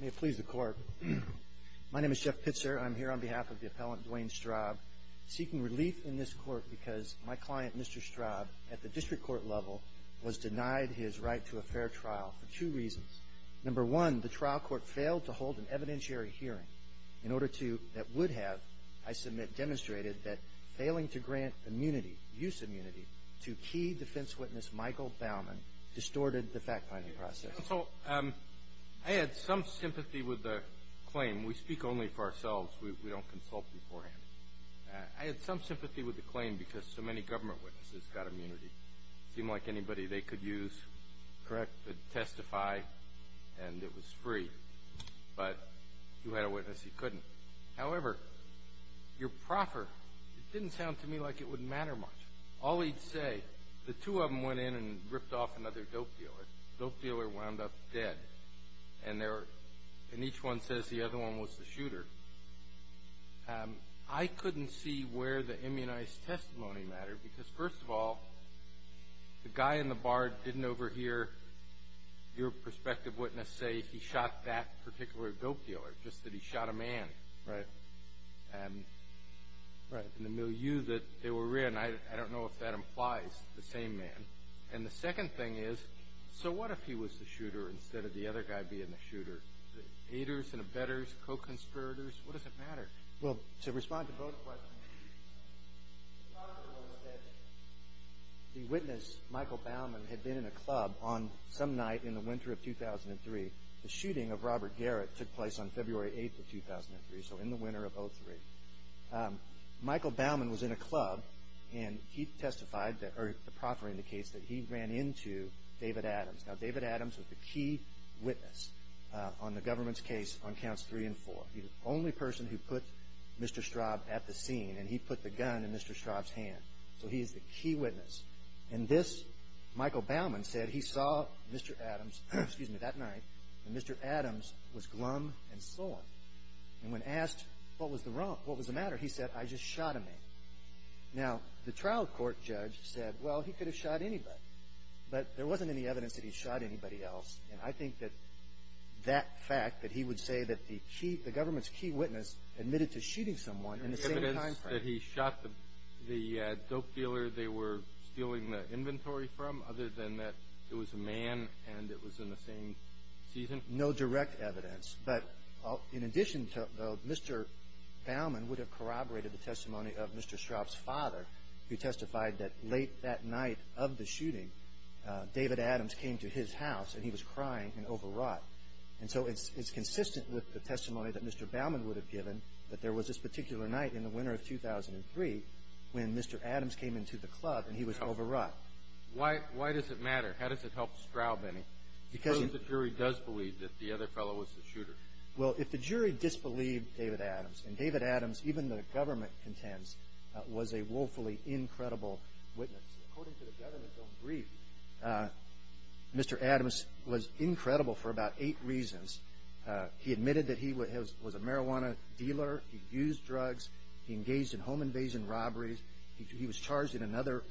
may please the court my name is Jeff Pitzer I'm here on behalf of the appellant Dwayne Straub seeking relief in this court because my client mr. Straub at the district court level was denied his right to a fair trial for two reasons number one the trial court failed to hold an evidentiary hearing in order to that would have I submit demonstrated that failing to grant immunity use immunity to key defense witness Michael Baumann distorted the I had some sympathy with the claim we speak only for ourselves we don't consult beforehand I had some sympathy with the claim because so many government witnesses got immunity seem like anybody they could use correct but testify and it was free but you had a witness he couldn't however your proffer it didn't sound to me like it wouldn't matter much all he'd say the two of them went in and ripped off another dope dealer dope dealer wound up dead and there and each one says the other one was the shooter I couldn't see where the immunized testimony matter because first of all the guy in the bar didn't overhear your perspective witness say he shot that particular dope dealer just that he shot a man right and right in the milieu that they were in I don't know if that implies the same man and the second thing is so what if he was the shooter instead of the other guy being the shooter haters and a better co-conspirators what does it matter well to respond to both the witness Michael Baumann had been in a club on some night in the winter of 2003 the shooting of Robert Garrett took place on February 8th of 2003 so in the winter of 03 Michael Baumann was in a club and he testified that or the proffer indicates that he ran into David Adams now David Adams was the key witness on the government's case on counts three and four the only person who put mr. Straub at the scene and he put the gun in mr. Straub's hand so he is the key witness and this Michael Baumann said he saw mr. Adams excuse me that night and mr. Adams was glum and sore and when asked what was the wrong what was the matter he said I just shot a man now the trial court judge said well he could have anybody but there wasn't any evidence that he shot anybody else and I think that that fact that he would say that the key the government's key witness admitted to shooting someone in the same time that he shot the the dope dealer they were stealing the inventory from other than that it was a man and it was in the same season no direct evidence but in addition to mr. Baumann would have corroborated the testimony of mr. Straub's father who testified that late that night of the shooting David Adams came to his house and he was crying and overwrought and so it's consistent with the testimony that mr. Baumann would have given but there was this particular night in the winter of 2003 when mr. Adams came into the club and he was overwrought why why does it matter how does it help Straub any because the jury does believe that the other fellow was the shooter well if the jury disbelieved David Adams and David Adams even the Mr. Adams was incredible for about eight reasons he admitted that he would have was a marijuana dealer he used drugs he engaged in home invasion robberies he was charged in another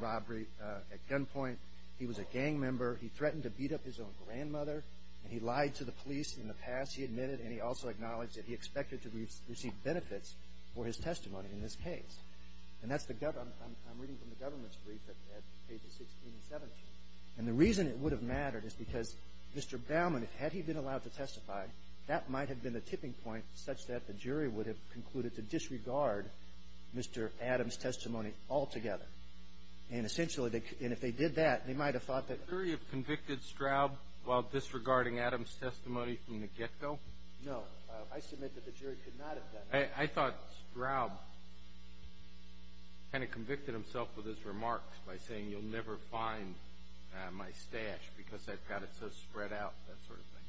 robbery at gunpoint he was a gang member he threatened to beat up his own grandmother and he lied to the police in the past he admitted and he also acknowledged that he expected to receive benefits for his testimony in this case and that's the government I'm reading from the government's brief at pages 16 and 17 and the reason it would have mattered is because mr. Baumann had he been allowed to testify that might have been the tipping point such that the jury would have concluded to disregard mr. Adams testimony altogether and essentially they and if they did that they might have thought that very convicted Straub while disregarding I thought Straub kind of convicted himself with his remarks by saying you'll never find my stash because I've got it so spread out that sort of thing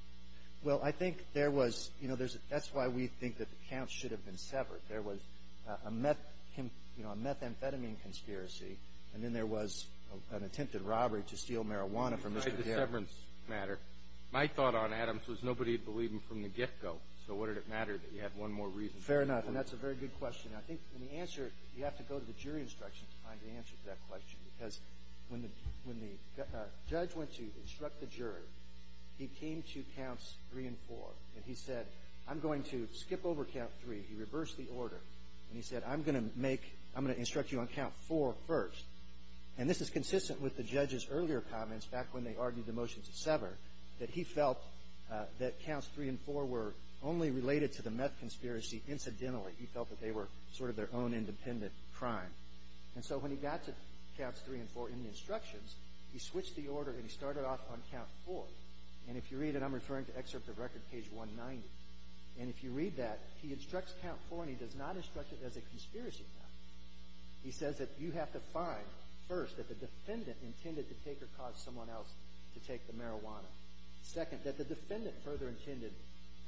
well I think there was you know there's that's why we think that the counts should have been severed there was a meth you know a methamphetamine conspiracy and then there was an attempted robbery to steal marijuana from the severance matter my thought on Adams was nobody believed him from the reason fair enough and that's a very good question I think the answer you have to go to the jury instruction time to answer that question because when the when the judge went to instruct the jury he came to counts three and four and he said I'm going to skip over count three he reversed the order and he said I'm gonna make I'm gonna instruct you on count four first and this is consistent with the judges earlier comments back when they argued the motion to sever that he felt that counts three and four were only related to the meth conspiracy incidentally he felt that they were sort of their own independent crime and so when he got to counts three and four in the instructions he switched the order and he started off on count four and if you read it I'm referring to excerpt of record page 190 and if you read that he instructs count four and he does not instruct it as a conspiracy he says that you have to find first that the defendant intended to take or cause someone else to take the marijuana second that the defendant further intended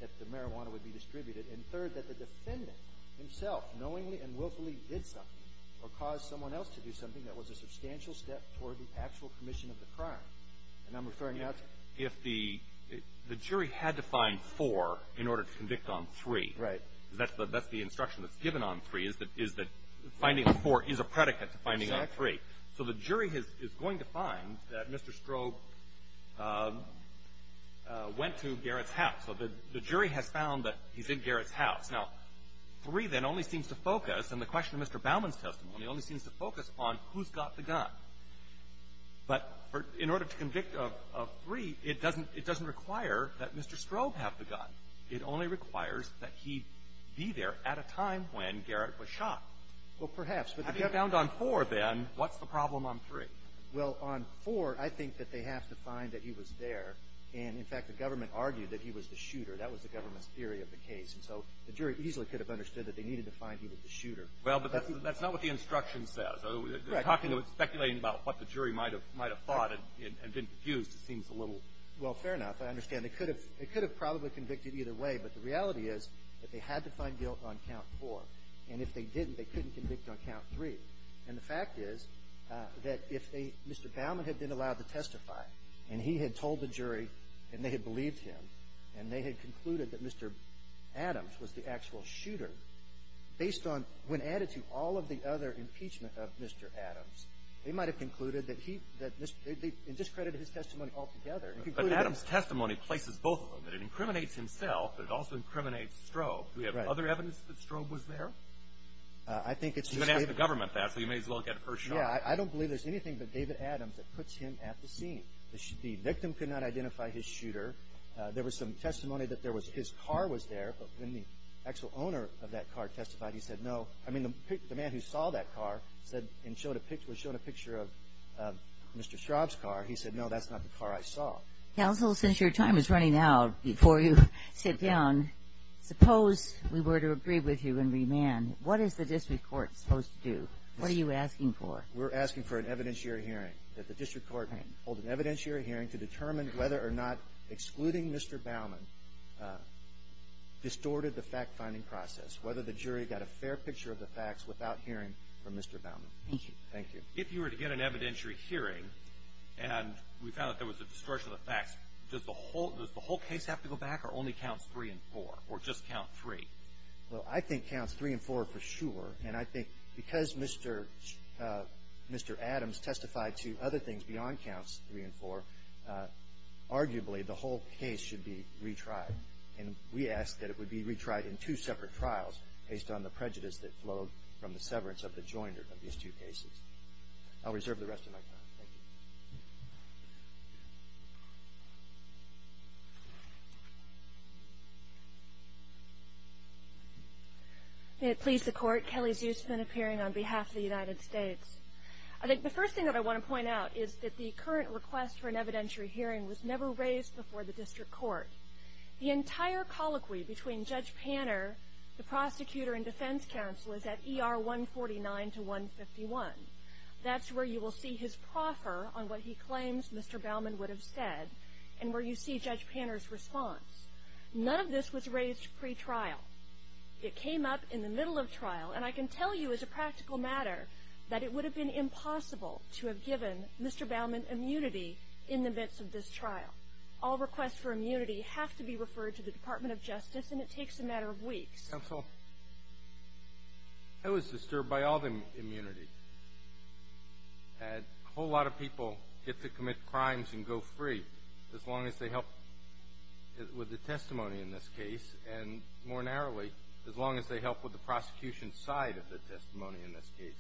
that the marijuana would be third that the defendant himself knowingly and willfully did something or caused someone else to do something that was a substantial step toward the actual commission of the crime and I'm referring now to if the the jury had to find four in order to convict on three right that's the that's the instruction that's given on three is that is that finding the four is a predicate to finding out three so the jury has is going to find that mr. strobe went to he's in Garrett's house now three then only seems to focus and the question of mr. Bowman's testimony only seems to focus on who's got the gun but for in order to convict of three it doesn't it doesn't require that mr. strobe have the gun it only requires that he be there at a time when Garrett was shot well perhaps but they have found on four then what's the problem on three well on four I think that they have to find that he was there and in fact the government argued that he was the case and so the jury easily could have understood that they needed to find he was the shooter well but that's not what the instruction says oh talking to speculating about what the jury might have might have thought it and been confused it seems a little well fair enough I understand they could have it could have probably convicted either way but the reality is that they had to find guilt on count four and if they didn't they couldn't convict on count three and the fact is that if they mr. Bowman had been allowed to testify and he had told the jury and they had believed him and they had concluded that mr. Adams was the actual shooter based on when added to all of the other impeachment of mr. Adams they might have concluded that he that this discredited his testimony altogether Adams testimony places both of them that it incriminates himself but it also incriminates strobe we have other evidence that strobe was there I think it's the government that so you may as well get first yeah I don't believe there's anything but David Adams that puts him at the scene this should be victim could not identify his shooter there was some testimony that there was his car was there but when the actual owner of that car testified he said no I mean the man who saw that car said and showed a picture was shown a picture of mr. Schraub's car he said no that's not the car I saw counsel since your time is running out before you sit down suppose we were to agree with you and remand what is the district court supposed to do what are you asking for we're asking for an evidentiary hearing that the district court hold an evidentiary hearing to determine whether or not excluding mr. Baumann distorted the fact-finding process whether the jury got a fair picture of the facts without hearing from mr. Baumann thank you if you were to get an evidentiary hearing and we found that there was a distortion of facts just the whole does the whole case have to go back or only counts three and four or just count three well I think counts three and four for sure and I think because mr. mr. Adams testified to other things beyond counts three and four arguably the whole case should be retried and we asked that it would be retried in two separate trials based on the prejudice that flowed from the severance of the joiner of these two cases I'll reserve the rest of my time it please the court Kelly's used to been appearing on behalf of the United States I think the first thing that I want to point out is that the current request for an evidentiary hearing was never raised before the district court the entire colloquy between judge Panner the prosecutor and defense counsel is at er 149 to 151 that's where you will see his proffer on what he claims mr. Bauman would have said and where you see judge Panner's response none of this was raised pre-trial it came up in the middle of trial and I can tell you as a practical matter that it would have been impossible to have given mr. Bauman immunity in the midst of this trial all requests for immunity have to be referred to the Department of Justice and it takes a matter of weeks so I was commit crimes and go free as long as they help with the testimony in this case and more narrowly as long as they help with the prosecution side of the testimony in this case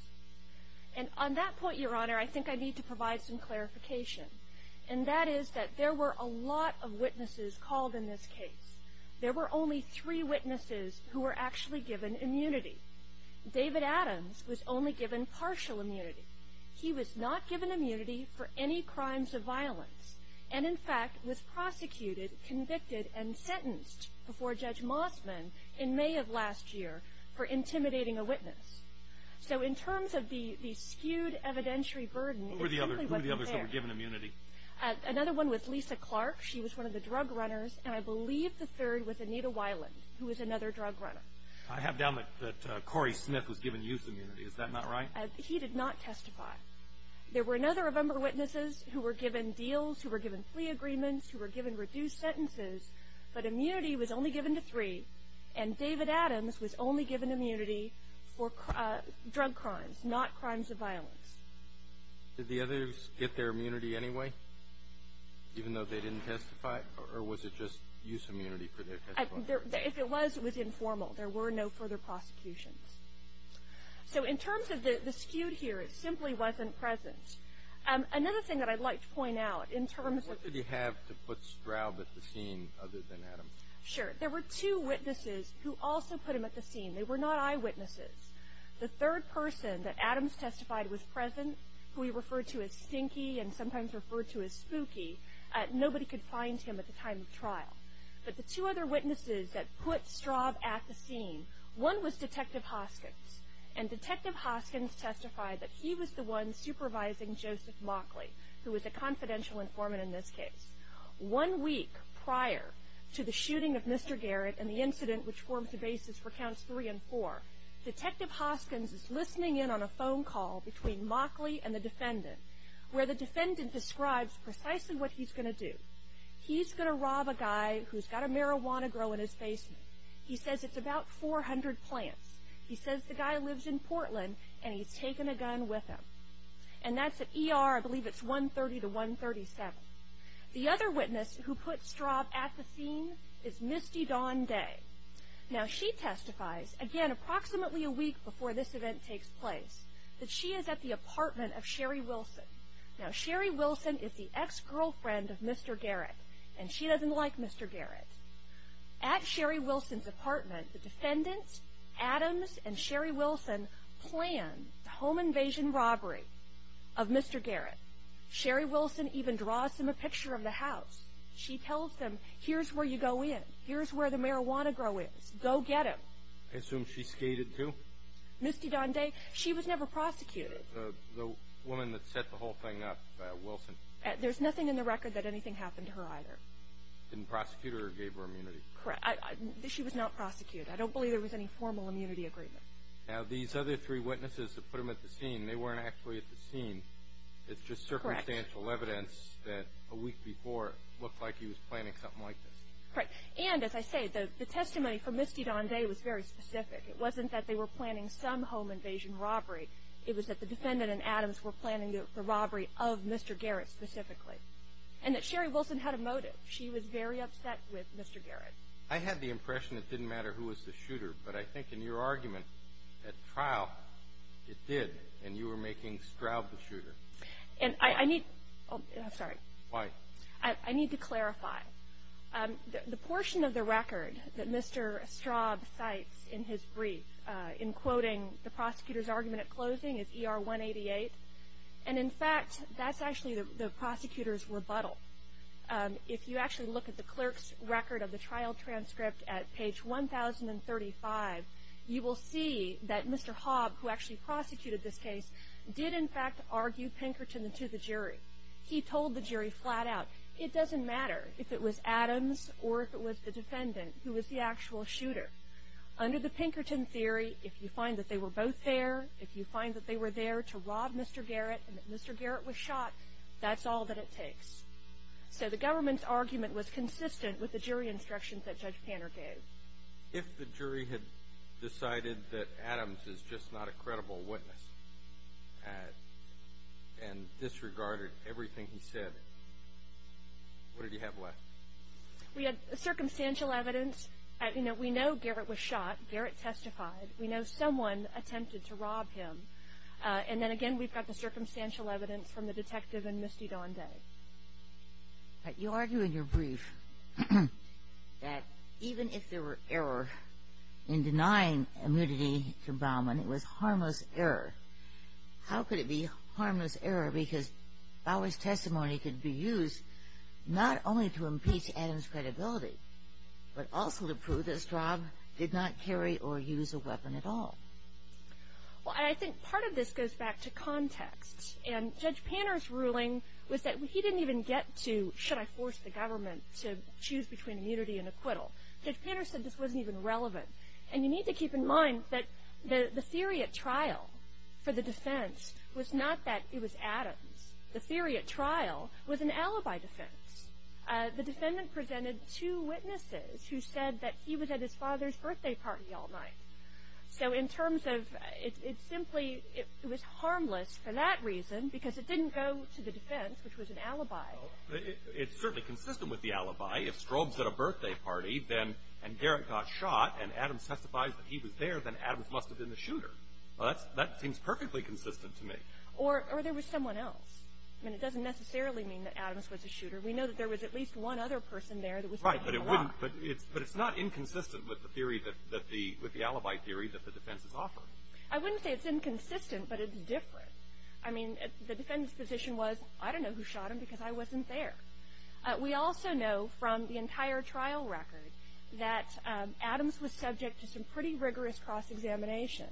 and on that point your honor I think I need to provide some clarification and that is that there were a lot of witnesses called in this case there were only three witnesses who were actually given immunity David Adams was only given partial immunity he was not given immunity for any crimes of violence and in fact was prosecuted convicted and sentenced before judge Mossman in May of last year for intimidating a witness so in terms of the the skewed evidentiary burden or the other the others that were given immunity another one with Lisa Clark she was one of the drug runners and I believe the third with Anita Weiland who is another drug runner I have down that Corey Smith was given youth immunity is that not right he did not testify there were another number witnesses who were given deals who were given plea agreements who were given reduced sentences but immunity was only given to three and David Adams was only given immunity for drug crimes not crimes of violence did the others get their immunity anyway even though they didn't testify or was it just use immunity if it was with informal there so in terms of the skewed here it simply wasn't present another thing that I'd like to point out in terms of what did he have to put Straub at the scene other than Adam sure there were two witnesses who also put him at the scene they were not eyewitnesses the third person that Adams testified was present we referred to as stinky and sometimes referred to as spooky nobody could find him at the time of trial but the two other witnesses that put Straub at the scene one was detective Hoskins and detective Hoskins testified that he was the one supervising Joseph Mockley who was a confidential informant in this case one week prior to the shooting of mr. Garrett and the incident which forms the basis for counts three and four detective Hoskins is listening in on a phone call between Mockley and the defendant where the defendant describes precisely what he's going to do he's going to rob a guy who's got a marijuana grow in his basement he says it's about 400 plants he says the guy lives in Portland and he's taken a gun with him and that's at ER I believe it's 130 to 137 the other witness who put Straub at the scene is Misty Dawn Day now she testifies again approximately a week before this event takes place that she is at the apartment of Sherry Wilson now Sherry Wilson is the ex-girlfriend of mr. Garrett and she doesn't like mr. Garrett at Sherry Wilson's apartment the defendants Adams and Sherry Wilson planned the home invasion robbery of mr. Garrett Sherry Wilson even draws him a picture of the house she tells them here's where you go in here's where the marijuana grow is go get him assume she skated to Misty Dawn Day she was never prosecuted the woman that set the whole thing up Wilson there's nothing in the record that anything happened to her either didn't prosecute her gave her immunity correct she was not prosecuted I don't believe there was any formal immunity agreement now these other three witnesses that put him at the scene they weren't actually at the scene it's just circumstantial evidence that a week before looked like he was planning something like this right and as I say the testimony for Misty Dawn Day was very specific it wasn't that they were planning some home invasion robbery it was that the specifically and that Sherry Wilson had a motive she was very upset with mr. Garrett I had the impression it didn't matter who was the shooter but I think in your argument at trial it did and you were making Straub the shooter and I need oh sorry why I need to clarify the portion of the record that mr. Straub sites in his brief in quoting the prosecutor's argument at closing is er 188 and in fact that's actually the prosecutor's rebuttal if you actually look at the clerk's record of the trial transcript at page 1035 you will see that mr. Hobb who actually prosecuted this case did in fact argue Pinkerton into the jury he told the jury flat-out it doesn't matter if it was Adams or if it was the defendant who was the actual shooter under the Pinkerton theory if you find that they were both there if you find that they were there to rob mr. Garrett and mr. Garrett was shot that's all that it takes so the government's argument was consistent with the jury instructions that judge Panner gave if the jury had decided that Adams is just not a credible witness and disregarded everything he said what did you have left we had a circumstantial evidence I know Garrett was shot Garrett testified we know someone attempted to rob him and then again we've got the circumstantial evidence from the detective and Misty Donde but you argue in your brief that even if there were error in denying immunity to Bowman it was harmless error how could it be harmless error because Bowers testimony could be used not only to impeach Adams credibility but also to this job did not carry or use a weapon at all well I think part of this goes back to context and judge Panner's ruling was that he didn't even get to should I force the government to choose between immunity and acquittal judge Panter said this wasn't even relevant and you need to keep in mind that the theory at trial for the defense was not that it was Adams the theory at trial was an alibi defense the defendant presented two witnesses who said that he was at his father's birthday party all night so in terms of it simply it was harmless for that reason because it didn't go to the defense which was an alibi it's certainly consistent with the alibi if strobes at a birthday party then and Garrett got shot and Adams testifies that he was there then Adams must have been the shooter that seems perfectly consistent to me or there was someone else I mean it doesn't necessarily mean that Adams was a shooter we know that there was at least one other person there that was right but it wouldn't but it's but it's not inconsistent with the theory that that the with the alibi theory that the defense is offered I wouldn't say it's inconsistent but it's different I mean the defendants position was I don't know who shot him because I wasn't there we also know from the entire trial record that Adams was subject to some pretty rigorous cross-examination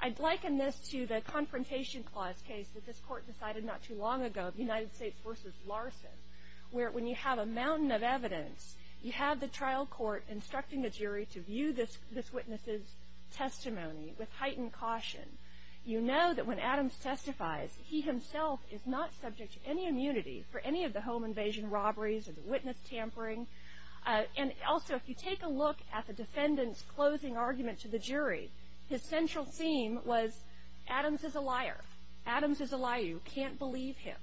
I'd liken this to the confrontation clause case that this court decided not too long ago the United States versus Larson where when you have a mountain of evidence you have the trial court instructing the jury to view this this witnesses testimony with heightened caution you know that when Adams testifies he himself is not subject to any immunity for any of the home invasion robberies or the witness tampering and also if you take a look at the defendants closing argument to the Adams is a liar Adams is a liar you can't believe him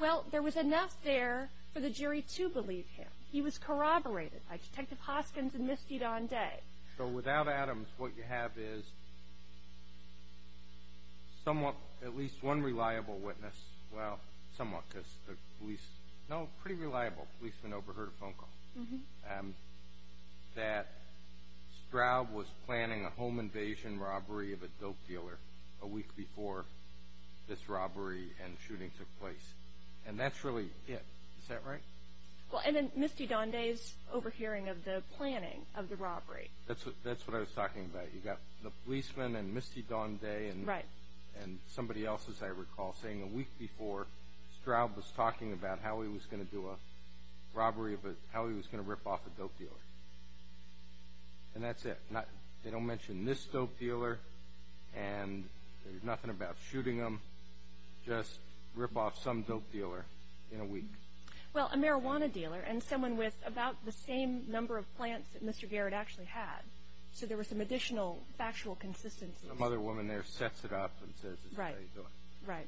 well there was enough there for the jury to believe him he was corroborated by detective Hoskins and misfeed on day so without Adams what you have is somewhat at least one reliable witness well somewhat because the police know pretty reliable policeman overheard a phone call and that Stroud was planning a home invasion robbery of a week before this robbery and shooting took place and that's really it is that right well and then misty dawn days overhearing of the planning of the robbery that's what that's what I was talking about you got the policeman and misty dawn day and right and somebody else's I recall saying a week before Stroud was talking about how he was going to do a robbery but how he was going to rip off a dope dealer and that's it not they don't mention this dealer and nothing about shooting them just rip off some dope dealer in a week well a marijuana dealer and someone with about the same number of plants that mr. Garrett actually had so there was some additional factual consistency mother woman there sets it up and says right right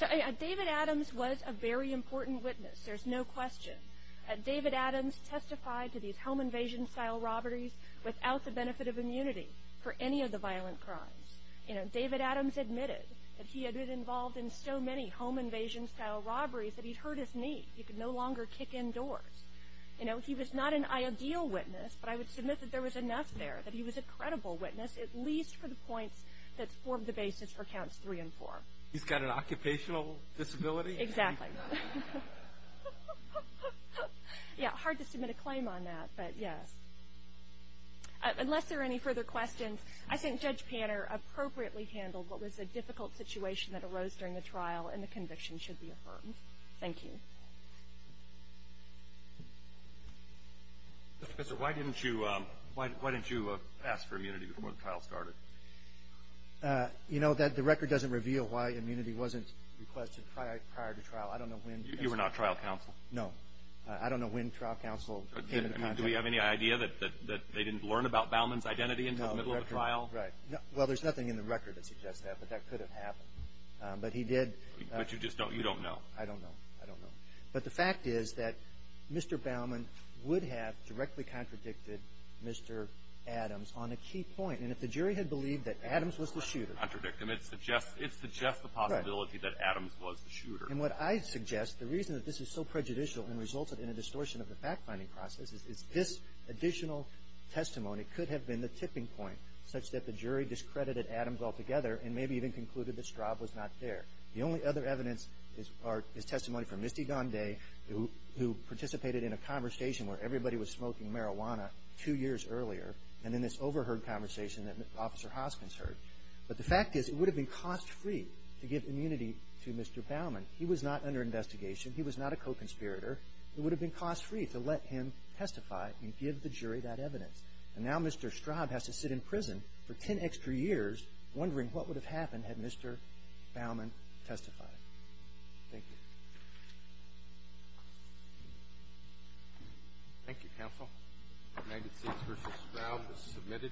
so a David Adams was a very important witness there's no question at David Adams testified to these home immunity for any of the violent crimes you know David Adams admitted that he had been involved in so many home invasion style robberies that he'd hurt his knee he could no longer kick indoors you know he was not an ideal witness but I would submit that there was enough there that he was a credible witness at least for the points that form the basis for counts three and four he's got an occupational disability exactly yeah hard to submit a claim on that but yes unless there are any further questions I think judge Panner appropriately handled what was a difficult situation that arose during the trial and the conviction should be affirmed thank you so why didn't you why didn't you ask for immunity before the trial started you know that the record doesn't reveal why immunity wasn't requested prior to trial I don't know when you were not trial counsel no I don't know when trial counsel do we have any idea that that they didn't learn about Bowman's identity in the middle of trial right well there's nothing in the record that suggests that but that could have happened but he did but you just don't you don't know I don't know I don't know but the fact is that mr. Bowman would have directly contradicted mr. Adams on a key point and if the jury had believed that Adams was the shooter contradict him it's the Jeff it's the Jeff the possibility that Adams was the shooter and what I suggest the reason that this is so prejudicial and resulted in a distortion of the fact-finding process is this additional testimony could have been the tipping point such that the jury discredited Adams altogether and maybe even concluded that Straub was not there the only other evidence is our testimony from Misty gone day who participated in a conversation where everybody was smoking marijuana two years earlier and in this overheard conversation that officer Hoskins heard but the fact is it would have been cost-free to give immunity to mr. Bowman he was not under investigation he was not a co-conspirator it would have been cost-free to let him testify and give the jury that evidence and now mr. Straub has to sit in prison for ten extra years wondering what would have happened had mr. Bowman testified thank you counsel